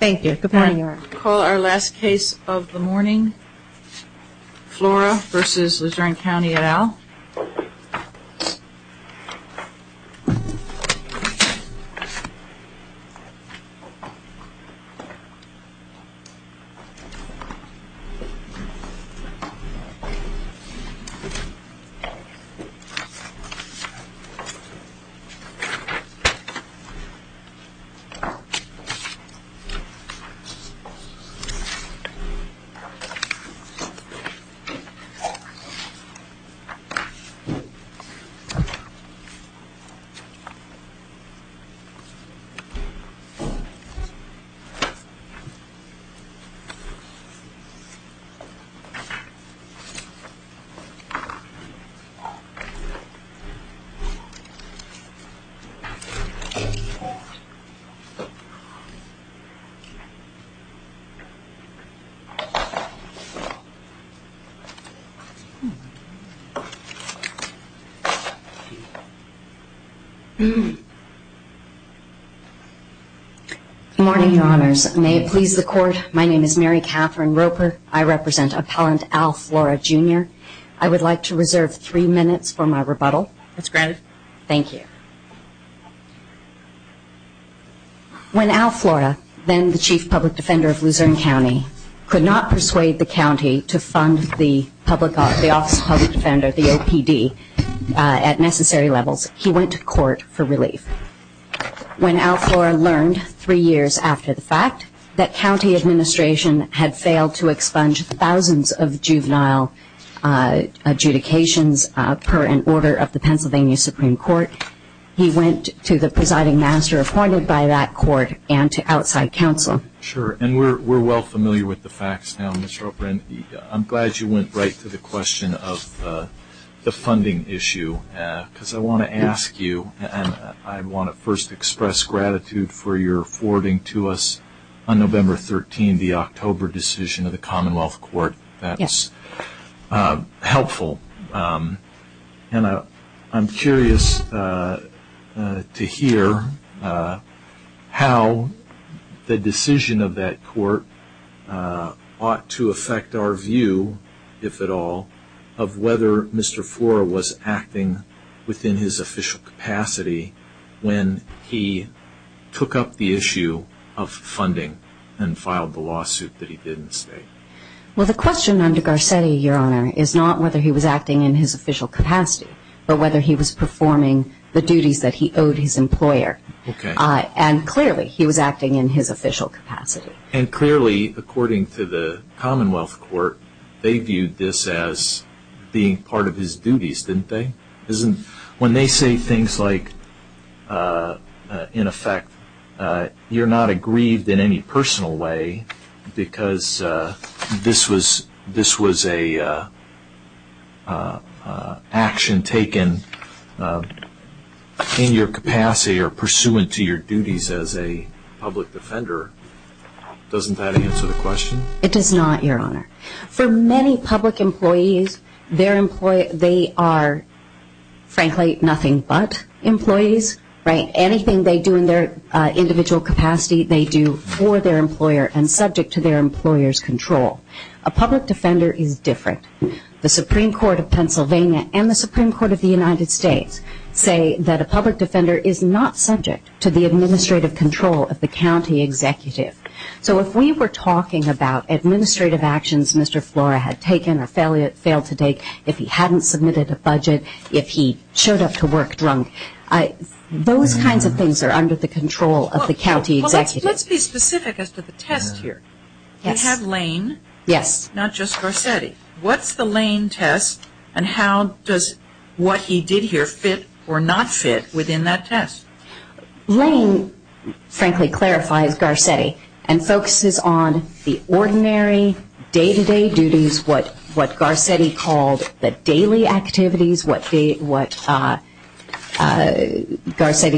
Thank you. Good morning. I'll call our last case of the morning. Flora v. LuzerneCounty et al. Flora v. LuzerneCounty et al. Good morning, Your Honors. May it please the Court, my name is Mary Catherine Roper. I represent Appellant Al Flora, Jr. I would like to reserve three minutes for my rebuttal. When Al Flora, then the Chief Public Defender of Luzerne County, could not persuade the county to fund the Office of Public Defender, the OPD, at necessary levels, he went to court for relief. When Al Flora learned, three years after the fact, that county administration had failed to expunge thousands of juvenile adjudications per an order of the Pennsylvania Supreme Court, he went to the presiding master appointed by that court and to outside counsel. Sure. And we're well familiar with the facts now, Ms. Roper, and I'm glad you went right to the question of the funding issue, because I want to ask you, and I want to first express gratitude for your forwarding to us, on November 13, the October decision of the Commonwealth Court. That was helpful. And I'm curious to hear how the decision of that court ought to affect our view, if at all, of whether Mr. Flora was acting within his official capacity when he took up the issue of funding and filed the lawsuit that he did in the state. Well, the question under Garcetti, Your Honor, is not whether he was acting in his official capacity, but whether he was performing the duties that he owed his employer. Okay. And clearly, he was acting in his official capacity. And clearly, according to the Commonwealth Court, they viewed this as being part of his duties, didn't they? When they say things like, in effect, you're not aggrieved in any personal way because this was an action taken in your capacity or pursuant to your duties as a public defender, doesn't that answer the question? It does not, Your Honor. For many public employees, they are, frankly, nothing but employees, right? Anything they do in their individual capacity, they do for their employer and subject to their employer's control. A public defender is different. The Supreme Court of Pennsylvania and the Supreme Court of the United States say that a public defender is not subject to the administrative control of the county executive. So if we were talking about administrative actions Mr. Flora had taken or failed to take, if he hadn't submitted a budget, if he showed up to work drunk, those kinds of things are under the control of the county executive. Well, let's be specific as to the test here. You have Lane, not just Garcetti. What's the Lane test and how does what he did here fit or not fit within that test? Lane, frankly, clarifies Garcetti and focuses on the ordinary day-to-day duties, what Garcetti called the daily activities, what Garcetti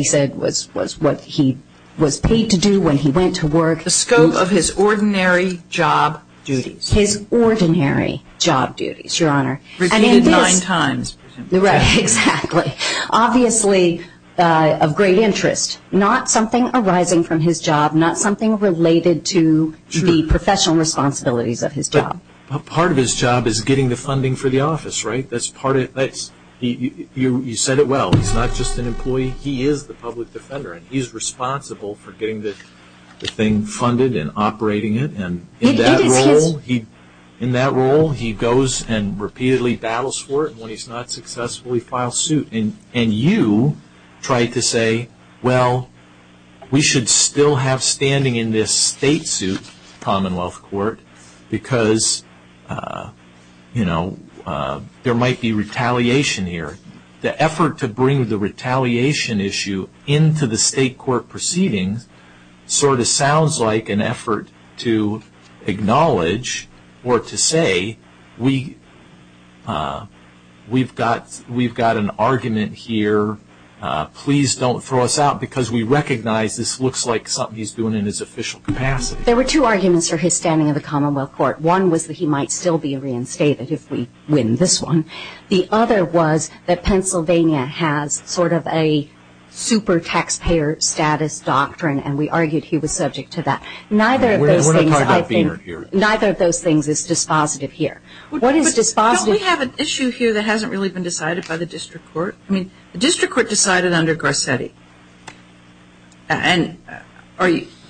said was what he was paid to do when he went to work. The scope of his ordinary job duties. His ordinary job duties, Your Honor. Repeated nine times. Right, exactly. Obviously of great interest. Not something arising from his job, not something related to the professional responsibilities of his job. Part of his job is getting the funding for the office, right? You said it well. He's not just an employee. He is the public defender and he's responsible for getting the thing funded and operating it. In that role he goes and repeatedly battles for it and when he's not successful he files a suit and you try to say, well, we should still have standing in this state suit, commonwealth court, because there might be retaliation here. The effort to bring the retaliation issue into the state court proceedings sort of sounds like an effort to acknowledge or to say we've got an argument here. Please don't throw us out because we recognize this looks like something he's doing in his official capacity. There were two arguments for his standing in the commonwealth court. One was that he might still be reinstated if we win this one. The other was that Pennsylvania has sort of a super taxpayer status doctrine and we argued he was subject to that. Neither of those things is dispositive here. Don't we have an issue here that hasn't really been decided by the district court? The district court decided under Garcetti.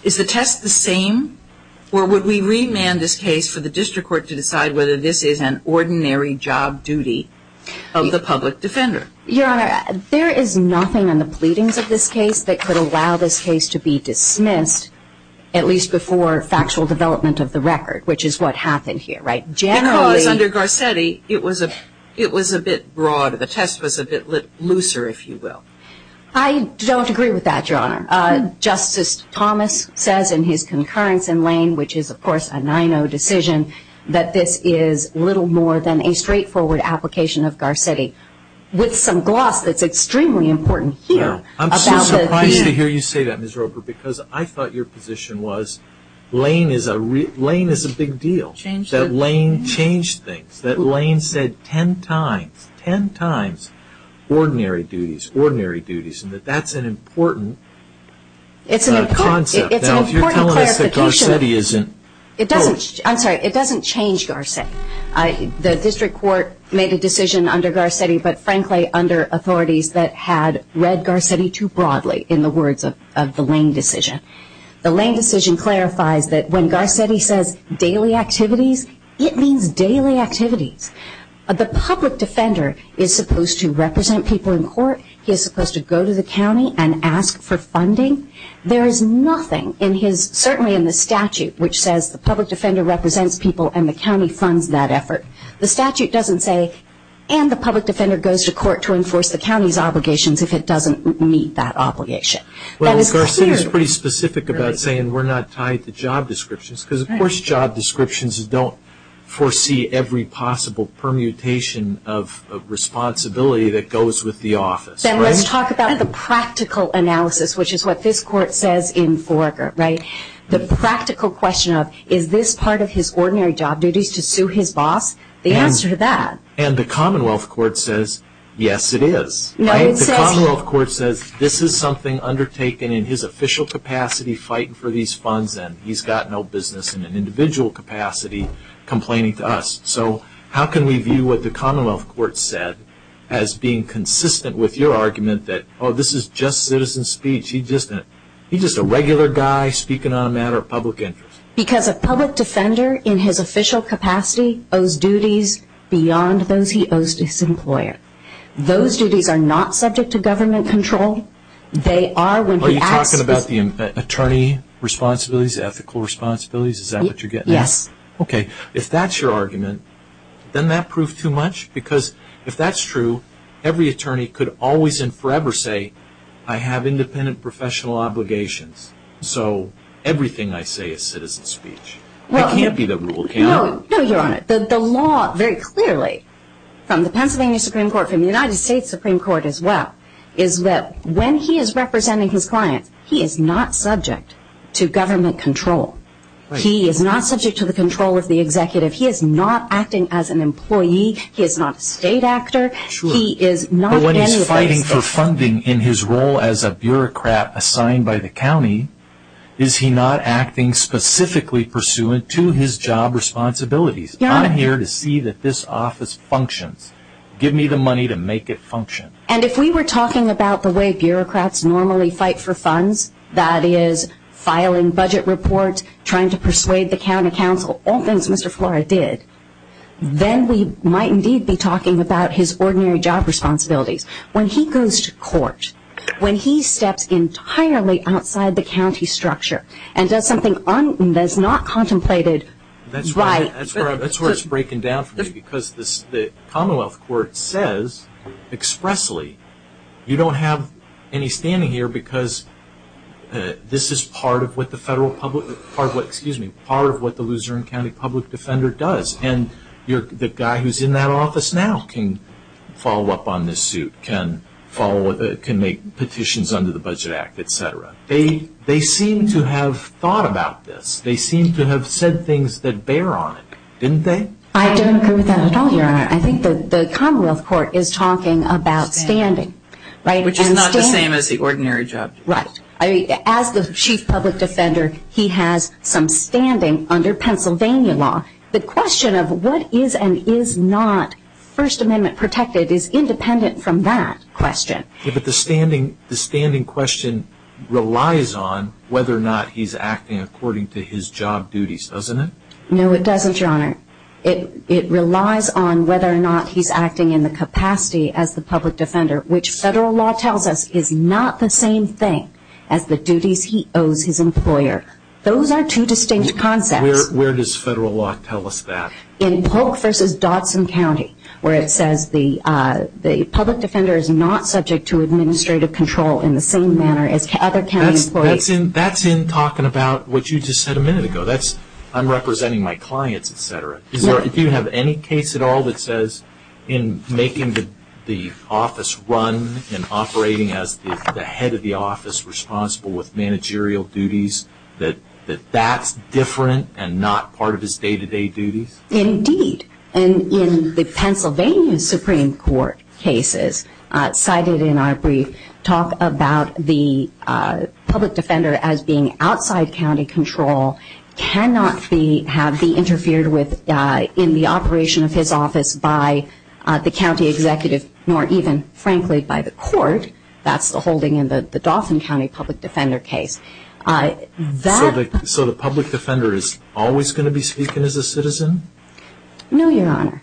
Is the test the same or would we remand this case for the district court to decide whether this is an ordinary job duty of the public defender? Your Honor, there is nothing in the pleadings of this case that could allow this case to be dismissed at least before factual development of the record, which is what happened here. Because under Garcetti, it was a bit broad. The test was a bit looser, if you will. I don't agree with that, Your Honor. Justice Thomas says in his concurrence in Lane, which is of course a 9-0 decision, that this is little more than a straightforward application of Garcetti with some gloss that's extremely important here. I'm so surprised to hear you say that, Ms. Roper, because I thought your position was Lane is a big deal, that Lane changed things, that Lane said ten times, ten times, ordinary duties, ordinary duties, and that that's an important concept. It's an important clarification. Now, if you're telling us that Garcetti isn't... I'm sorry, it doesn't change Garcetti. The district court made a decision under Garcetti, but frankly under authorities that had read Garcetti too broadly in the words of the Lane decision. The Lane decision clarifies that when Garcetti says daily activities, it means daily activities. The public defender is supposed to represent people in court. He is supposed to go to the county and ask for funding. There is nothing in his, certainly in the statute, which says the public defender represents people and the county funds that effort. The statute doesn't say, and the public defender goes to court to enforce the county's obligations if it doesn't meet that obligation. Well, Garcetti is pretty specific about saying we're not tied to job descriptions, because of course job descriptions don't foresee every possible permutation of responsibility that goes with the office. Then let's talk about the practical analysis, which is what this court says in Forger, right? The practical question of, is this part of his ordinary job duties to sue his boss? The answer to that. And the Commonwealth Court says, yes it is. The Commonwealth Court says this is something undertaken in his official capacity fighting for these funds, and he's got no business in an individual capacity complaining to us. So how can we view what the Commonwealth Court said as being consistent with your argument that, oh, this is just citizen speech, he's just a regular guy speaking on a matter of public interest? Because a public defender in his official capacity owes duties beyond those he owes to his employer. Those duties are not subject to government control. They are when he acts... Are you talking about the attorney responsibilities, ethical responsibilities, is that what you're getting at? Yes. Okay. If that's your argument, then that proves too much, because if that's true, every attorney could always and forever say, I have independent professional obligations, so everything I say is citizen speech. It can't be the rule, can it? No, no, Your Honor. The law, very clearly, from the Pennsylvania Supreme Court, from the United States Supreme Court as well, is that when he is representing his clients, he is not subject to government control. He is not subject to the control of the executive. He is not acting as an employee. He is not a state actor. True. He is not anybody's... But when he's fighting for funding in his role as a bureaucrat assigned by the county, is he not acting specifically pursuant to his job responsibilities? Your Honor... I'm here to see that this office functions. Give me the money to make it function. And if we were talking about the way bureaucrats normally fight for funds, that is, filing budget reports, trying to persuade the county council, all things Mr. Flora did, then we might indeed be talking about his ordinary job responsibilities. When he goes to court, when he steps entirely outside the county structure and does something that is not contemplated... That's where it's breaking down for me because the Commonwealth Court says expressly, you don't have any standing here because this is part of what the federal public... Excuse me. Part of what the Luzerne County Public Defender does. And the guy who's in that office now can follow up on this suit, can make petitions under the Budget Act, et cetera. They seem to have thought about this. They seem to have said things that bear on it, didn't they? I don't agree with that at all, Your Honor. I think the Commonwealth Court is talking about standing. Which is not the same as the ordinary job. Right. As the Chief Public Defender, he has some standing under Pennsylvania law. The question of what is and is not First Amendment protected is independent from that question. But the standing question relies on whether or not he's acting according to his job duties, doesn't it? No, it doesn't, Your Honor. It relies on whether or not he's acting in the capacity as the public defender, which federal law tells us is not the same thing as the duties he owes his employer. Those are two distinct concepts. Where does federal law tell us that? In Polk v. Dodson County, where it says the public defender is not subject to administrative control in the same manner as other county employees. That's in talking about what you just said a minute ago. I'm representing my clients, et cetera. Do you have any case at all that says in making the office run and operating as the head of federal duties that that's different and not part of his day-to-day duties? Indeed. In the Pennsylvania Supreme Court cases cited in our brief, talk about the public defender as being outside county control cannot have been interfered with in the operation of his office by the county executive, nor even, frankly, by the court. That's the holding in the Dawson County public defender case. So the public defender is always going to be speaking as a citizen? No, Your Honor.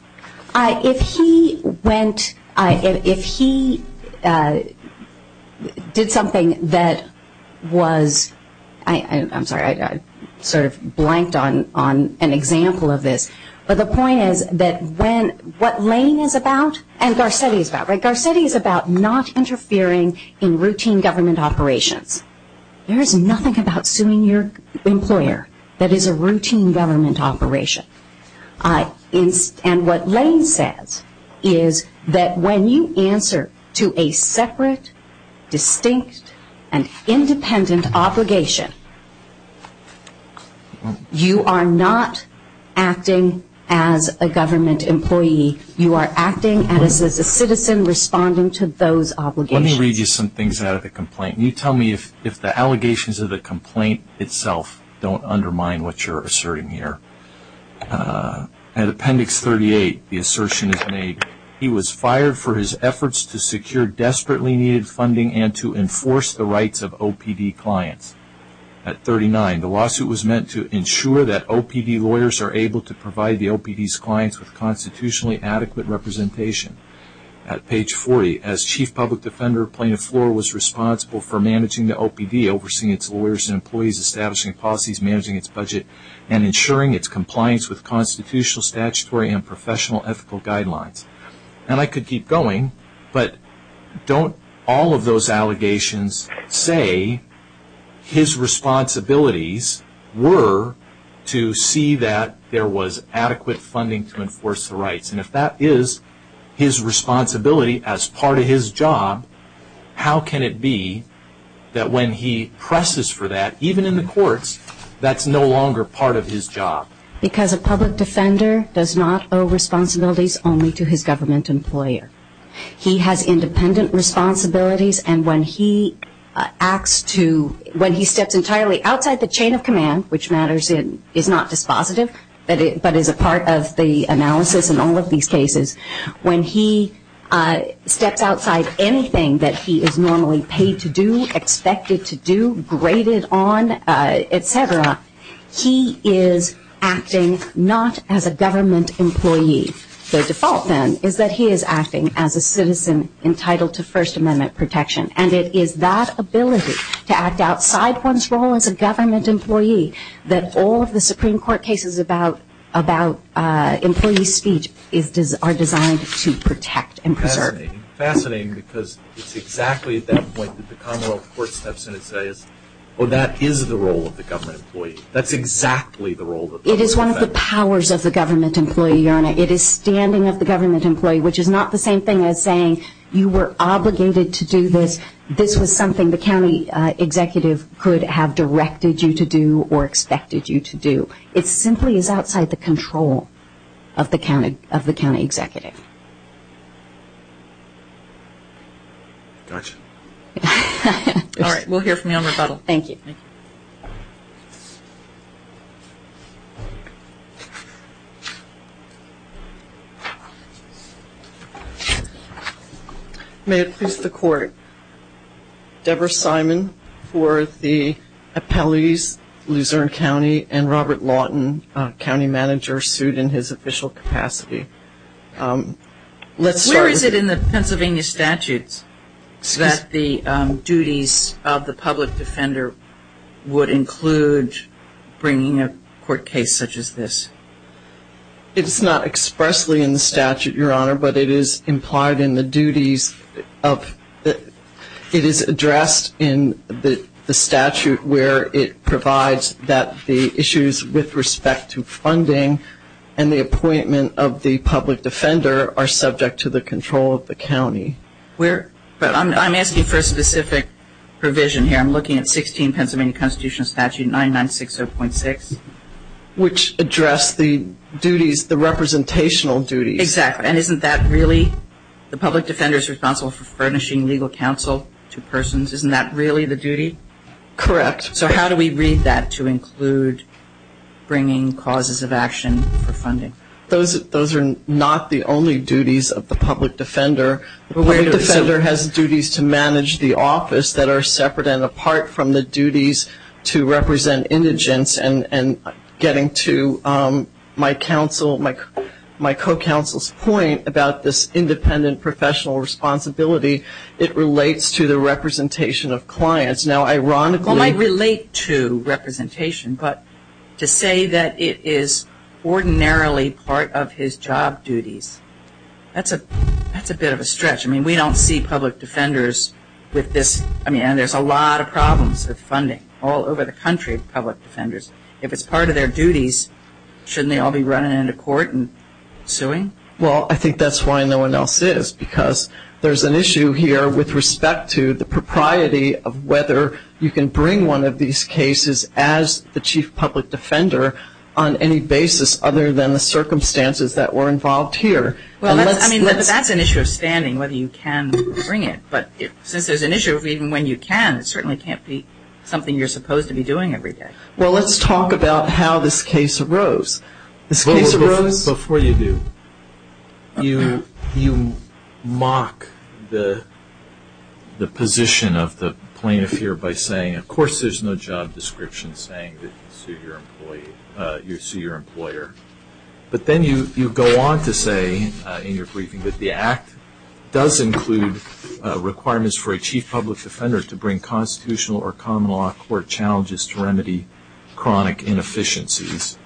If he went, if he did something that was, I'm sorry, I sort of blanked on an example of this. But the point is that when, what Lane is about and Garcetti is about, right? Interfering in routine government operations, there is nothing about suing your employer that is a routine government operation. And what Lane says is that when you answer to a separate, distinct, and independent obligation, you are not acting as a government employee. You are acting as a citizen responding to those obligations. Let me read you some things out of the complaint. You tell me if the allegations of the complaint itself don't undermine what you're asserting here. At Appendix 38, the assertion is made, he was fired for his efforts to secure desperately needed funding and to enforce the rights of OPD clients. At 39, the lawsuit was meant to ensure that OPD lawyers are able to provide the OPD's compliance with constitutionally adequate representation. At page 40, as Chief Public Defender, Plaintiff Floor was responsible for managing the OPD, overseeing its lawyers and employees, establishing policies, managing its budget, and ensuring its compliance with constitutional, statutory, and professional ethical guidelines. And I could keep going, but don't all of those allegations say his responsibilities were to see that there was adequate funding to enforce the rights. And if that is his responsibility as part of his job, how can it be that when he presses for that, even in the courts, that's no longer part of his job? Because a public defender does not owe responsibilities only to his government employer. He has independent responsibilities and when he acts to, when he steps entirely outside the chain of command, which matters, is not dispositive, but is a part of the analysis in all of these cases, when he steps outside anything that he is normally paid to do, expected to do, graded on, et cetera, he is acting not as a government employee. The default then is that he is acting as a citizen entitled to First Amendment protection. And it is that ability to act outside one's role as a government employee that all of the Supreme Court cases about employee speech are designed to protect and preserve. Fascinating because it's exactly at that point that the Commonwealth Court steps in and says, well, that is the role of the government employee. That's exactly the role of the federal employee. It is one of the powers of the government employee, Your Honor. It is standing of the This was something the county executive could have directed you to do or expected you to do. It simply is outside the control of the county executive. All right. We'll hear from you on rebuttal. Thank you. May it please the Court, Deborah Simon for the appellees, Luzerne County and Robert Lawton, county manager sued in his official capacity. Where is it in the Pennsylvania statutes that the duties of the public defender would include bringing a court case such as this? It's not expressly in the statute, Your Honor, but it is implied in the duties of it is addressed in the statute where it provides that the issues with respect to funding and the appointment of the public defender are subject to the control of the county. But I'm asking for a specific provision here. I'm looking at 16 Pennsylvania Constitution Statute 9960.6. Which addressed the duties, the representational duties. Exactly. And isn't that really the public defender's responsible for furnishing legal counsel to persons? Isn't that really the duty? Correct. So how do we read that to include bringing causes of action for funding? Those are not the only duties of the public defender. The public defender has duties to manage the office that are separate and apart from the duties to represent indigents and getting to my counsel, my co-counsel's point about this independent professional responsibility, it relates to the representation of clients. Now, ironically it might relate to representation, but to say that it is ordinarily part of his job duties, that's a bit of a stretch. I mean, we don't see public defenders with this, I mean, and there's a lot of problems with funding all over the country, public defenders. If it's part of their duties, shouldn't they all be running into court and suing? Well I think that's why no one else is, because there's an issue here with respect to the ability to bring one of these cases as the chief public defender on any basis other than the circumstances that were involved here. Well, I mean, that's an issue of standing, whether you can bring it, but since there's an issue of even when you can, it certainly can't be something you're supposed to be doing every day. Well, let's talk about how this case arose. This case arose Before you do, you mock the position of the plaintiff here by saying, of course I'm going to sue you. Of course there's no job description saying that you sue your employer. But then you go on to say in your briefing that the act does include requirements for a chief public defender to bring constitutional or common law court challenges to remedy chronic inefficiencies.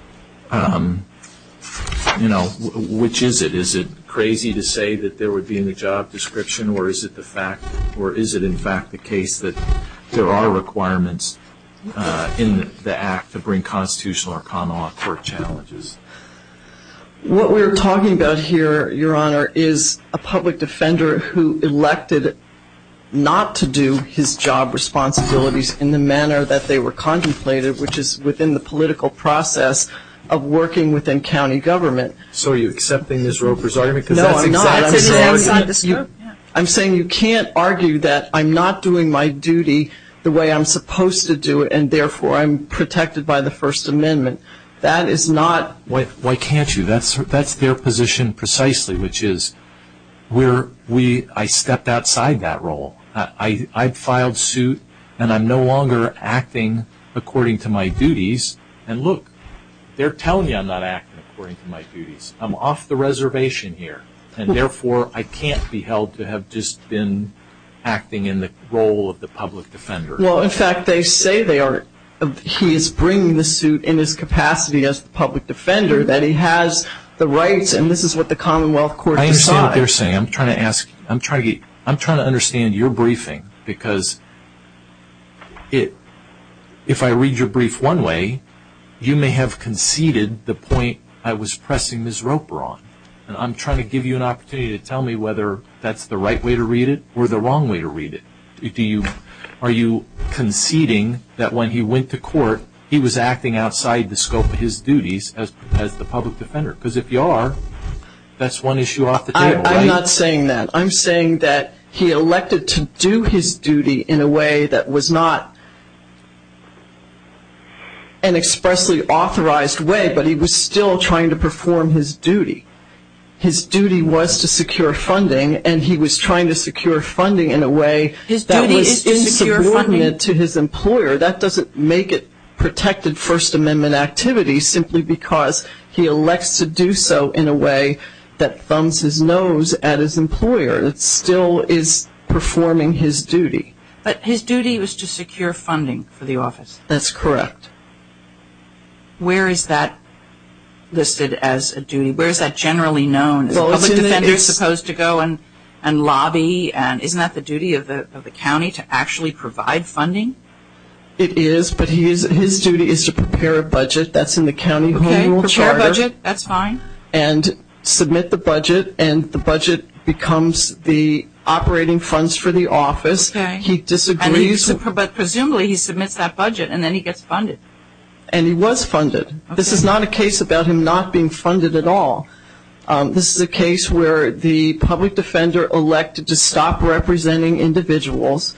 You know, which is it? Is it crazy to say that there would be a job description, or is it the fact, or is it in fact the case that there are requirements in the act to bring constitutional or common law court challenges? What we're talking about here, Your Honor, is a public defender who elected not to do his job responsibilities in the manner that they were contemplated, which is within the political process of working within county government. So are you accepting Ms. Roper's argument? No, I'm not. I'm saying you can't argue that I'm not doing my duty the way I'm supposed to do it, and therefore I'm protected by the First Amendment. That is not Why can't you? That's their position precisely, which is I stepped outside that role. I filed suit and I'm no longer acting according to my duties. And look, they're telling me I'm not acting according to my duties. I'm off the reservation here, and therefore I can't be held to have just been acting in the role of the public defender. Well, in fact, they say they are. He is bringing the suit in his capacity as the public defender, that he has the rights, and this is what the common law court decides. I understand what they're saying. I'm trying to understand your briefing, because if I have conceded the point I was pressing Ms. Roper on, and I'm trying to give you an opportunity to tell me whether that's the right way to read it or the wrong way to read it, are you conceding that when he went to court, he was acting outside the scope of his duties as the public defender? Because if you are, that's one issue off the table, right? I'm not saying that. I'm saying that he elected to do his duty in a way that was not an expressly authorized way, but he was still trying to perform his duty. His duty was to secure funding, and he was trying to secure funding in a way that was insubordinate to his employer. That doesn't make it protected First Amendment activity, simply because he elects to do so in a way that thumbs his nose at his employer, that still is performing his duty. But his duty was to secure funding for the office. That's correct. Where is that listed as a duty? Where is that generally known? Is a public defender supposed to go and lobby? Isn't that the duty of the county to actually provide funding? It is, but his duty is to prepare a budget. That's in the county Home Rule Charter. Prepare a budget. That's fine. And submit the budget, and the budget becomes the operating funds for the office. He disagrees. But presumably he submits that budget, and then he gets funded. And he was funded. This is not a case about him not being funded at all. This is a case where the public defender elected to stop representing individuals,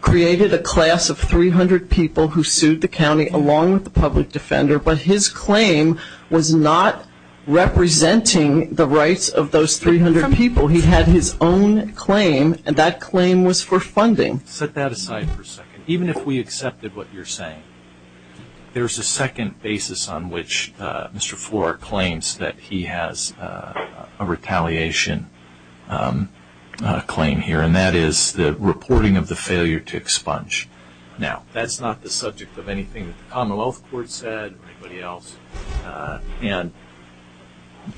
created a class of 300 people who sued the county along with the public defender, but his claim was not representing the rights of those 300 people. He had his own claim, and that claim was for funding. Set that aside for a second. Even if we accepted what you're saying, there's a second basis on which Mr. Flor claims that he has a retaliation claim here, and that is the reporting of the failure to expunge. Now, that's not the subject of anything that the Commonwealth Court said or anybody else. And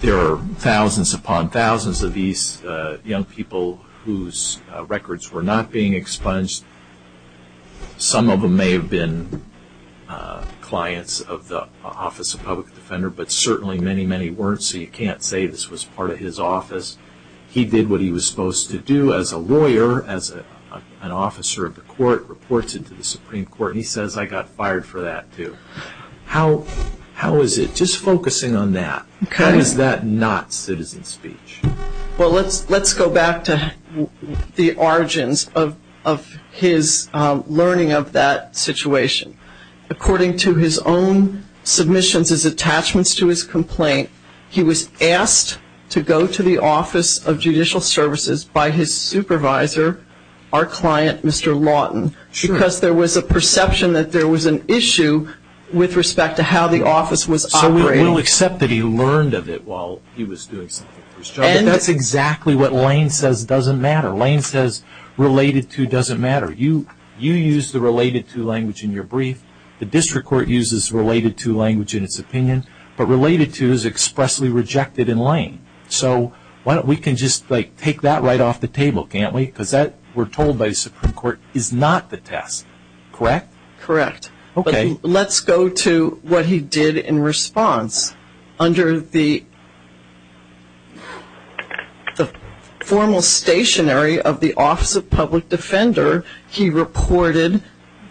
there are thousands upon thousands of these young people whose records were not being expunged. Some of them may have been clients of the Office of Public Defender, but certainly many, many weren't, so you can't say this was part of his office. He did what he was supposed to do as a lawyer, as an officer of the court, reported to the Supreme Court, and he says, I got fired for that too. How is it, just focusing on that, how is that not citizen speech? Well, let's go back to the origins of his learning of that situation. According to his own submissions as attachments to his complaint, he was asked to go to the Office of Judicial Services by his supervisor, our client, Mr. Lawton, because there was a perception that there was an issue with respect to how the office was operating. So we will accept that he learned of it while he was doing something for his job, but that's exactly what Lane says doesn't matter. Lane says related to doesn't matter. You use the related to language in your brief. The district court uses related to language in its opinion, but related to is expressly rejected in Lane. So we can just take that right off the table, can't we? Because that, we're told by the Supreme Court, is not the test, correct? Correct. Okay. Let's go to what he did in response. Under the formal stationary of the Office of Public Defender, he reported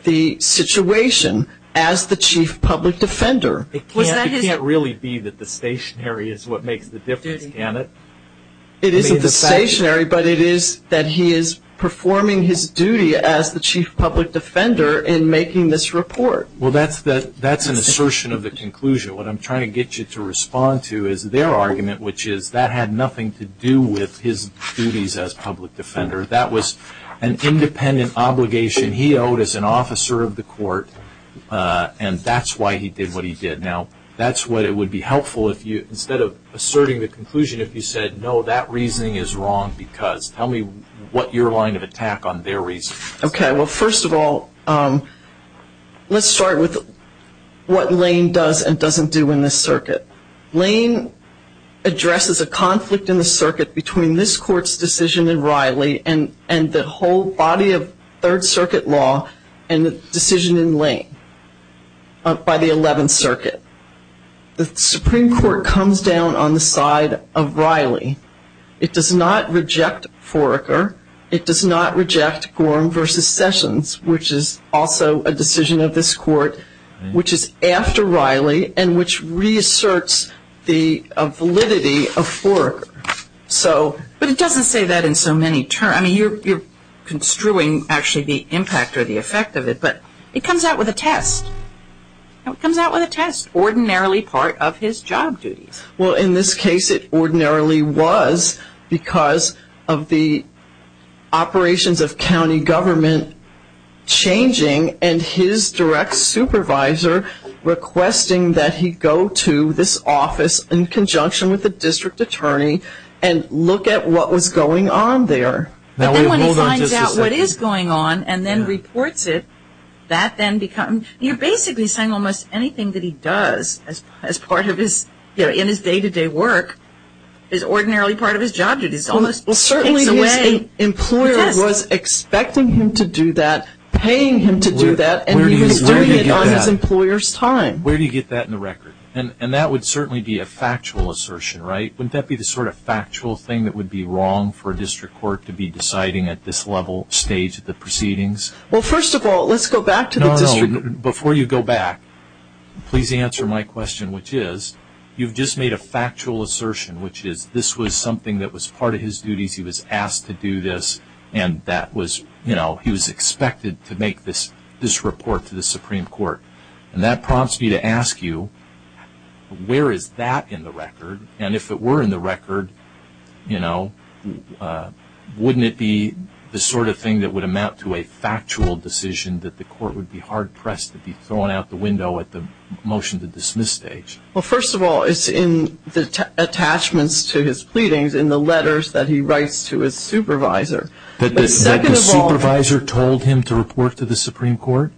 the situation as the chief public defender. It can't really be that the stationary is what makes the difference, can it? It isn't the stationary, but it is that he is performing his duty as the chief public defender in making this report. Well, that's an assertion of the conclusion. What I'm trying to get you to respond to is their argument, which is that had nothing to do with his duties as public defender. That was an independent obligation he owed as an officer of the court, and that's why he did what he did. Now, that's what it would be helpful if you, instead of asserting the conclusion, if you said, no, that reasoning is wrong because. Tell me what your line of attack on their reasoning is. Okay. Well, first of all, let's start with what Lane does and doesn't do in this circuit. Lane addresses a conflict in the circuit between this court's decision in Riley and the whole body of Third Circuit law and the decision in Lane by the Eleventh Circuit. The Supreme Court comes down on the side of Riley. It does not reject Foraker. It does not reject Gorham v. Sessions, which is also a decision of this court, which is after Riley and which reasserts the validity of Foraker. But it doesn't say that in so many terms. I mean, you're construing actually the impact or the effect of it, but it comes out with a test. It comes out with a test, ordinarily part of his job duties. Well, in this case, it ordinarily was because of the operations of county government changing and his direct supervisor requesting that he go to this office in conjunction with the district attorney and look at what was going on there. But then when he finds out what is going on and then reports it, that then becomes, you're basically saying almost anything that he does as part of his, in his day-to-day work, is ordinarily part of his job duties. Well, certainly his employer was expecting him to do that, paying him to do that, and he was doing it on his employer's time. Where do you get that in the record? And that would certainly be a factual assertion, right? Wouldn't that be the sort of factual thing that would be wrong for a district court to be deciding at this level, stage of the proceedings? Well, first of all, let's go back to the district. No, no, before you go back, please answer my question, which is, you've just made a factual assertion, which is this was something that was part of his duties, he was asked to do this, and that was, you know, he was expected to make this report to the Supreme Court. And that prompts me to ask you, where is that in the record? And if it were in the record, you know, wouldn't it be the sort of thing that would amount to a factual decision that the court would be hard-pressed to be throwing out the window at the motion to dismiss stage? Well, first of all, it's in the attachments to his pleadings, in the letters that he writes to his supervisor. That the supervisor told him to report to the Supreme Court?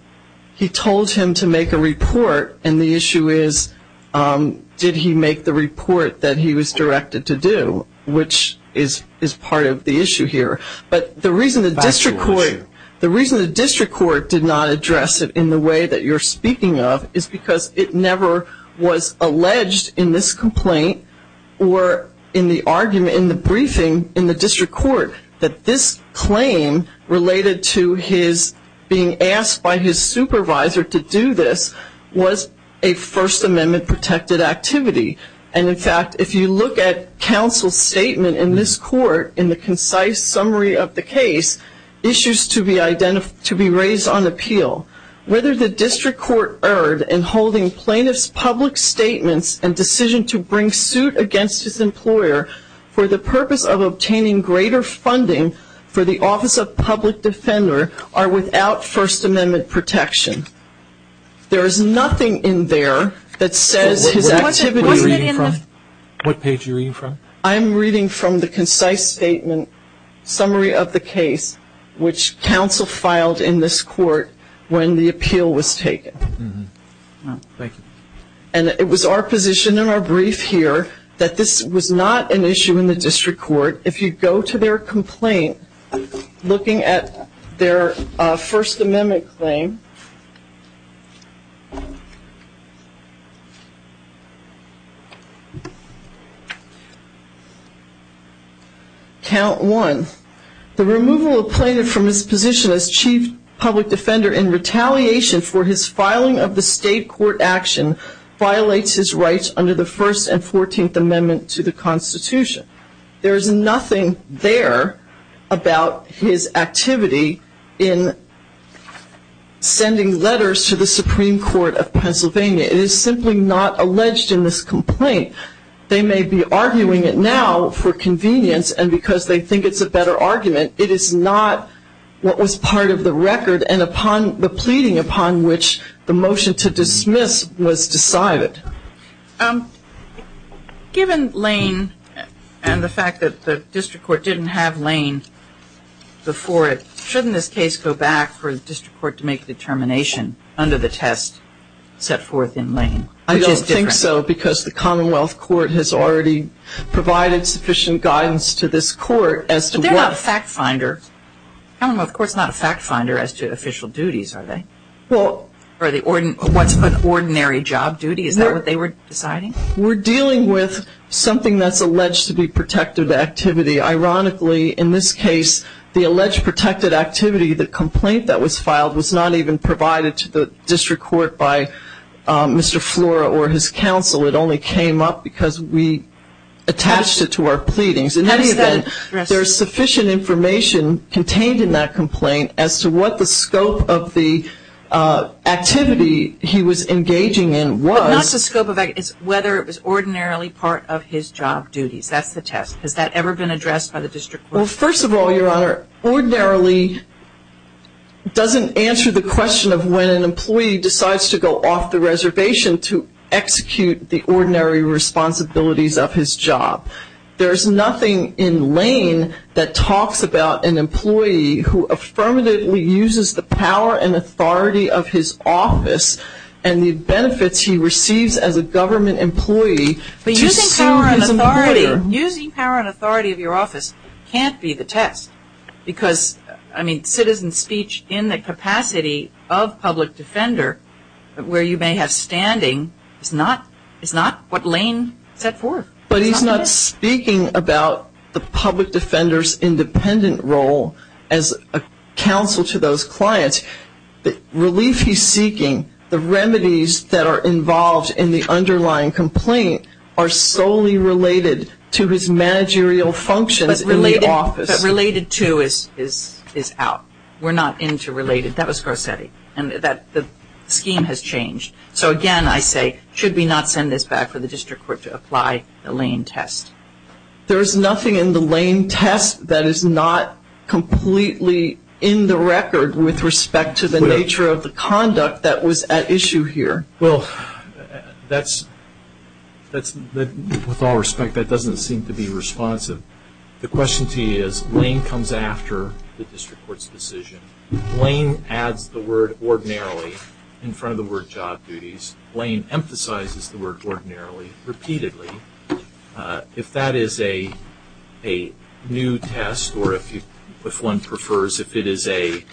He told him to make a report, and the issue is, did he make the report that he was directed to do, which is part of the issue here. But the reason the district court, the reason the district court did not address it in the way that you're speaking of is because it never was alleged in this complaint or in the argument, in the briefing in the district court that this claim related to his being asked by his supervisor to do this was a First Amendment protected activity. And in fact, if you look at counsel's statement in this court, in the concise summary of the case, issues to be raised on appeal. Whether the district court erred in holding plaintiff's public statements and decision to bring suit against his employer for the purpose of obtaining greater funding for the Office of Public Defender are without First Amendment protection. There is nothing in there that says his activity. What page are you reading from? I'm reading from the concise statement, summary of the case, which counsel filed in this court when the appeal was taken. Thank you. And it was our position in our brief here that this was not an issue in the district court. If you go to their complaint, looking at their First Amendment claim, count one, the removal of plaintiff from his position as Chief Public Defender in retaliation for his filing of the state court action violates his rights under the First and Fourteenth Amendment to the Constitution. There is nothing there about his activity in sending letters to the Supreme Court of Pennsylvania. It is simply not alleged in this complaint. They may be arguing it now for convenience, and because they think it's a better argument, it is not what was part of the record and the pleading upon which the motion to dismiss was decided. Given Lane and the fact that the district court didn't have Lane before it, shouldn't this case go back for the district court to make a determination under the test set forth in Lane? I don't think so, because the Commonwealth Court has already provided sufficient guidance to this court as to what But they're not a fact finder. The Commonwealth Court is not a fact finder as to official duties, are they? Well Or what's an ordinary job duty? Is that what they were deciding? We're dealing with something that's alleged to be protected activity. Ironically, in this case, the alleged protected activity, the complaint that was filed, was not even provided to the district court by Mr. Flora or his counsel. It only came up because we attached it to our pleadings. There is sufficient information contained in that complaint as to what the scope of the activity he was engaging in was. It's not the scope of activity. It's whether it was ordinarily part of his job duties. That's the test. Has that ever been addressed by the district court? Well, first of all, Your Honor, ordinarily doesn't answer the question of when an employee decides to go off the reservation to execute the ordinary responsibilities of his job. There is nothing in Lane that talks about an employee who affirmatively uses the power and authority of his office and the benefits he receives as a government employee to sue his employer. But using power and authority of your office can't be the test because, I mean, citizen speech in the capacity of public defender where you may have standing is not what Lane set forth. But he's not speaking about the public defender's independent role as a counsel to those clients. Relief he's seeking, the remedies that are involved in the underlying complaint, are solely related to his managerial functions in the office. But related to is out. We're not into related. That was Garcetti. And the scheme has changed. So, again, I say, should we not send this back for the district court to apply the Lane test? There is nothing in the Lane test that is not completely in the record with respect to the nature of the conduct that was at issue here. Well, that's, with all respect, that doesn't seem to be responsive. The question to you is, Lane comes after the district court's decision. Lane adds the word ordinarily in front of the word job duties. Lane emphasizes the word ordinarily repeatedly. If that is a new test or if one prefers if it is a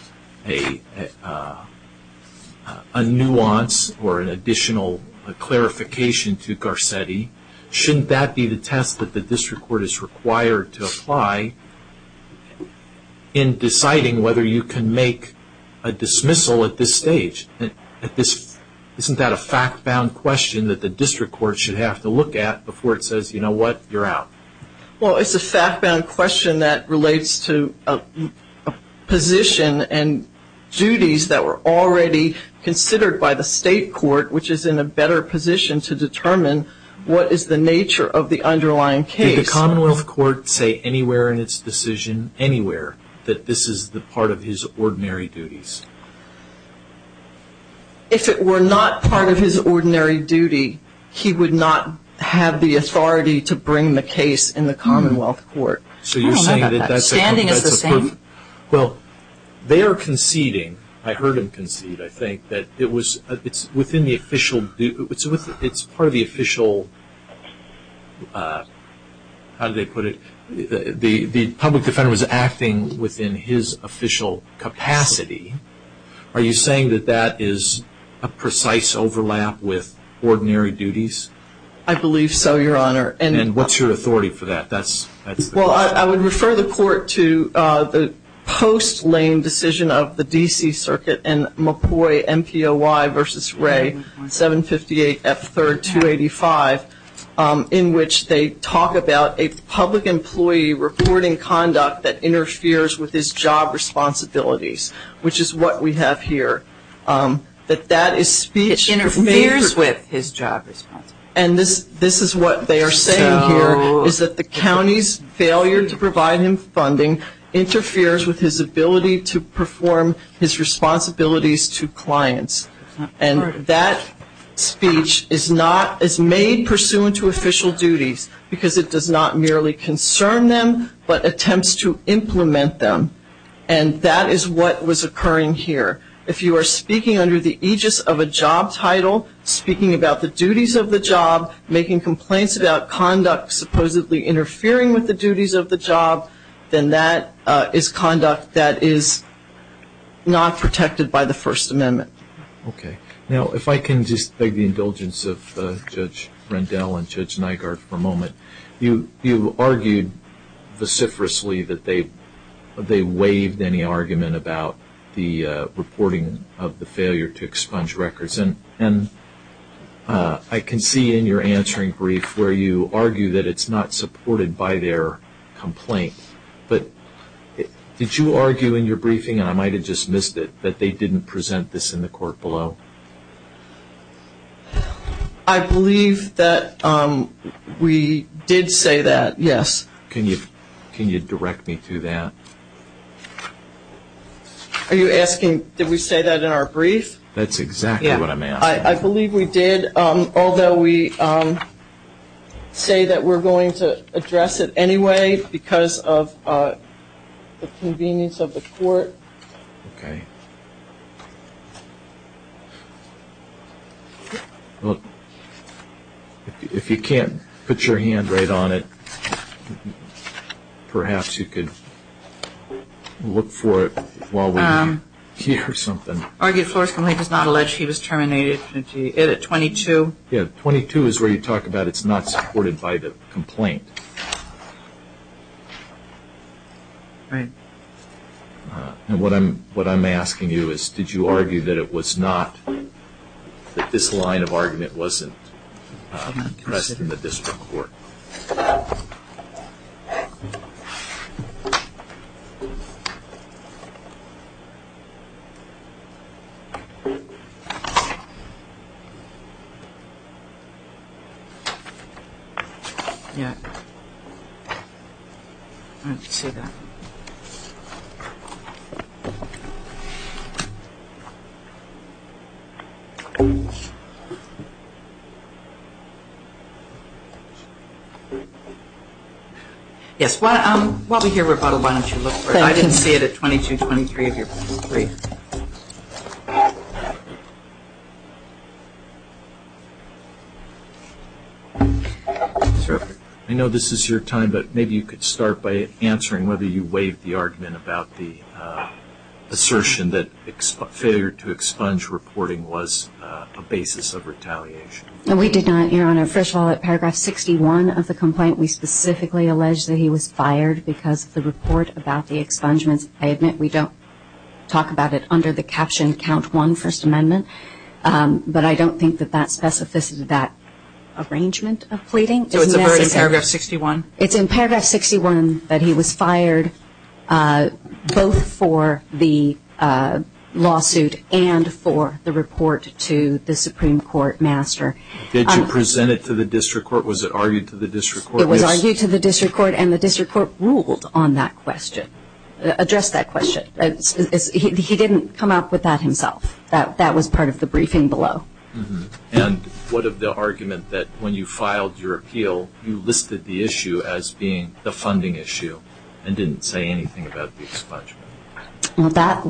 nuance or an additional clarification to Garcetti, shouldn't that be the test that the district court is required to apply in deciding whether you can make a dismissal at this stage? Isn't that a fact-bound question that the district court should have to look at before it says, you know what, you're out? Well, it's a fact-bound question that relates to a position and duties that were already considered by the state court, which is in a better position to determine what is the nature of the underlying case. Did the Commonwealth Court say anywhere in its decision, anywhere, that this is part of his ordinary duties? If it were not part of his ordinary duty, he would not have the authority to bring the case in the Commonwealth Court. I don't know about that. Standing is the same. Well, they are conceding. I heard him concede, I think, that it's part of the official, how do they put it, the public defender was acting within his official capacity. Are you saying that that is a precise overlap with ordinary duties? I believe so, Your Honor. And what's your authority for that? Well, I would refer the court to the post-Lane decision of the D.C. Circuit in McCoy MPOY v. Ray, 758 F. 3rd, 285, in which they talk about a public employee reporting conduct that interferes with his job responsibilities, which is what we have here, that that is speech. It interferes with his job responsibilities. And this is what they are saying here, is that the county's failure to provide him funding interferes with his ability to perform his responsibilities to clients. And that speech is not, is made pursuant to official duties, because it does not merely concern them but attempts to implement them. And that is what was occurring here. If you are speaking under the aegis of a job title, speaking about the duties of the job, making complaints about conduct supposedly interfering with the duties of the job, then that is conduct that is not protected by the First Amendment. Okay. Now, if I can just beg the indulgence of Judge Rendell and Judge Nygaard for a moment. You argued vociferously that they waived any argument about the reporting of the failure to expunge records. And I can see in your answering brief where you argue that it is not supported by their complaint. But did you argue in your briefing, and I might have just missed it, that they didn't present this in the court below? I believe that we did say that, yes. Can you direct me to that? Are you asking did we say that in our brief? That's exactly what I'm asking. I believe we did, although we say that we're going to address it anyway because of the convenience of the court. Okay. Well, if you can't put your hand right on it, perhaps you could look for it while we hear something. Argued Flores' complaint does not allege he was terminated at 22. Yeah, 22 is where you talk about it's not supported by the complaint. Right. And what I'm asking you is did you argue that it was not, that this line of argument wasn't present in the district court? No. I didn't see that. Yes, while we hear rebuttal, why don't you look for it? I didn't see it at 22, 23 of your brief. Thank you. I know this is your time, but maybe you could start by answering whether you waived the argument about the assertion that failure to expunge reporting was a basis of retaliation. We did not, Your Honor. First of all, at paragraph 61 of the complaint, we specifically allege that he was fired because of the report about the expungements. I admit we don't talk about it under the caption count one First Amendment, but I don't think that that's specific to that arrangement of pleading. So it's in paragraph 61? It's in paragraph 61 that he was fired both for the lawsuit and for the report to the Supreme Court master. Did you present it to the district court? Was it argued to the district court? It was argued to the district court, and the district court ruled on that question. It addressed that question. He didn't come up with that himself. That was part of the briefing below. And what of the argument that when you filed your appeal, you listed the issue as being the funding issue and didn't say anything about the expungement? Well, that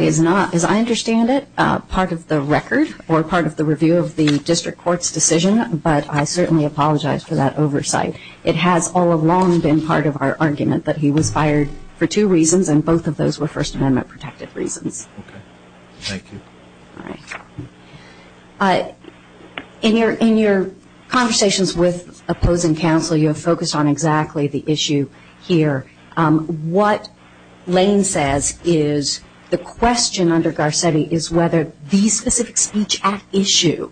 is not, as I understand it, part of the record or part of the review of the district court's decision, but I certainly apologize for that oversight. It has all along been part of our argument that he was fired for two reasons, and both of those were First Amendment protected reasons. Okay. Thank you. All right. In your conversations with opposing counsel, you have focused on exactly the issue here. What Lane says is the question under Garcetti is whether the specific speech at issue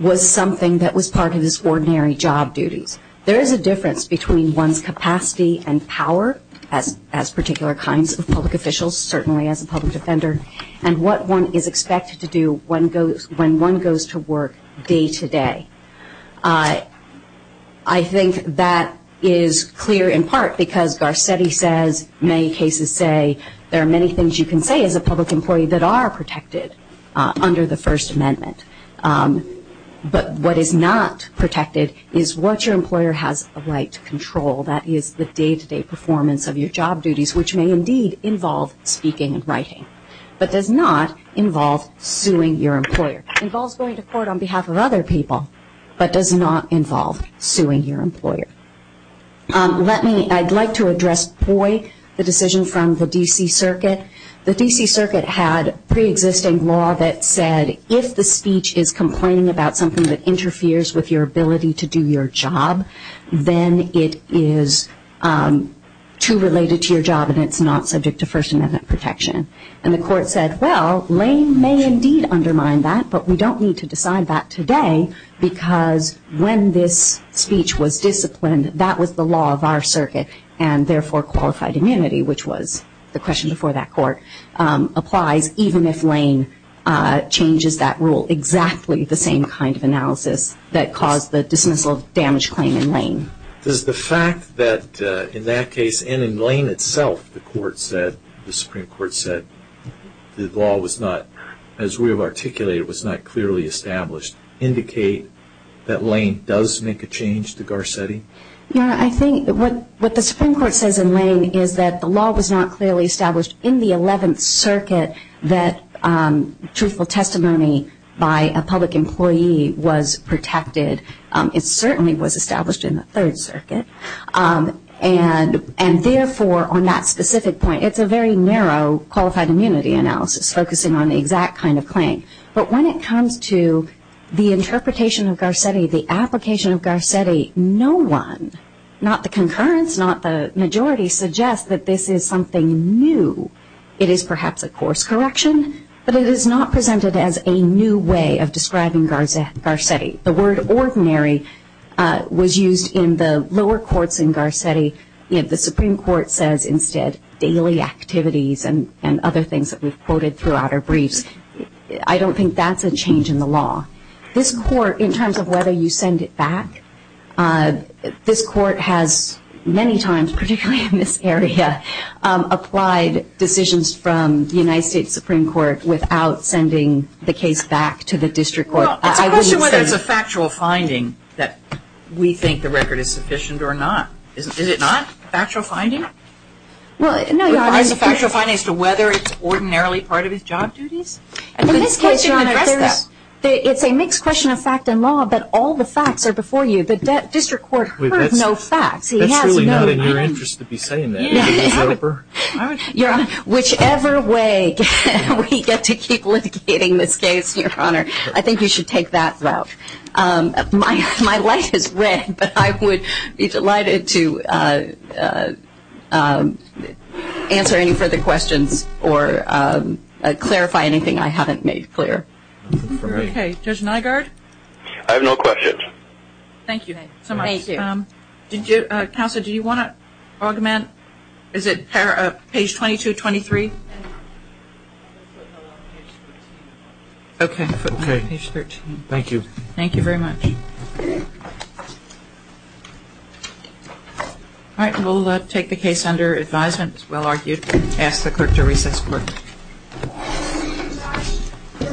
was something that was part of his ordinary job duties. There is a difference between one's capacity and power as particular kinds of public officials, certainly as a public defender, and what one is expected to do when one goes to work day to day. I think that is clear in part because Garcetti says many cases say there are many things you can say as a public employee that are protected under the First Amendment. But what is not protected is what your employer has a right to control. That is the day-to-day performance of your job duties, which may indeed involve speaking and writing, but does not involve suing your employer. It involves going to court on behalf of other people, but does not involve suing your employer. I would like to address POI, the decision from the D.C. Circuit. The D.C. Circuit had preexisting law that said if the speech is complaining about something that interferes with your ability to do your job, then it is too related to your job and it is not subject to First Amendment protection. And the court said, well, Lane may indeed undermine that, but we don't need to decide that today because when this speech was disciplined, that was the law of our circuit, and therefore qualified immunity, which was the question before that court, applies even if Lane changes that rule. Exactly the same kind of analysis that caused the dismissal of damage claim in Lane. Does the fact that in that case and in Lane itself the Supreme Court said the law was not, as we have articulated, was not clearly established, indicate that Lane does make a change to Garcetti? Yeah, I think what the Supreme Court says in Lane is that the law was not clearly established in the 11th Circuit that truthful testimony by a public employee was protected. It certainly was established in the 3rd Circuit, and therefore on that specific point, it's a very narrow qualified immunity analysis focusing on the exact kind of claim. But when it comes to the interpretation of Garcetti, the application of Garcetti, no one, not the concurrence, not the majority, suggests that this is something new. It is perhaps a course correction, but it is not presented as a new way of describing Garcetti. The word ordinary was used in the lower courts in Garcetti. The Supreme Court says instead daily activities and other things that we've quoted throughout our briefs. I don't think that's a change in the law. In terms of whether you send it back, this Court has many times, particularly in this area, applied decisions from the United States Supreme Court without sending the case back to the district court. Well, it's a question whether it's a factual finding that we think the record is sufficient or not. Is it not a factual finding? Well, no, Your Honor. It's a factual finding as to whether it's ordinarily part of his job duties? In this case, Your Honor, it's a mixed question of fact and law, but all the facts are before you. The district court heard no facts. That's really not in your interest to be saying that. Your Honor, I think you should take that route. My light is red, but I would be delighted to answer any further questions or clarify anything I haven't made clear. Okay. Judge Nygaard? I have no questions. Thank you so much. Thank you. Counsel, do you want to augment? Is it page 22, 23? Okay. Page 13. Thank you. Thank you very much. All right. We'll take the case under advisement as well argued. Ask the clerk to recess court.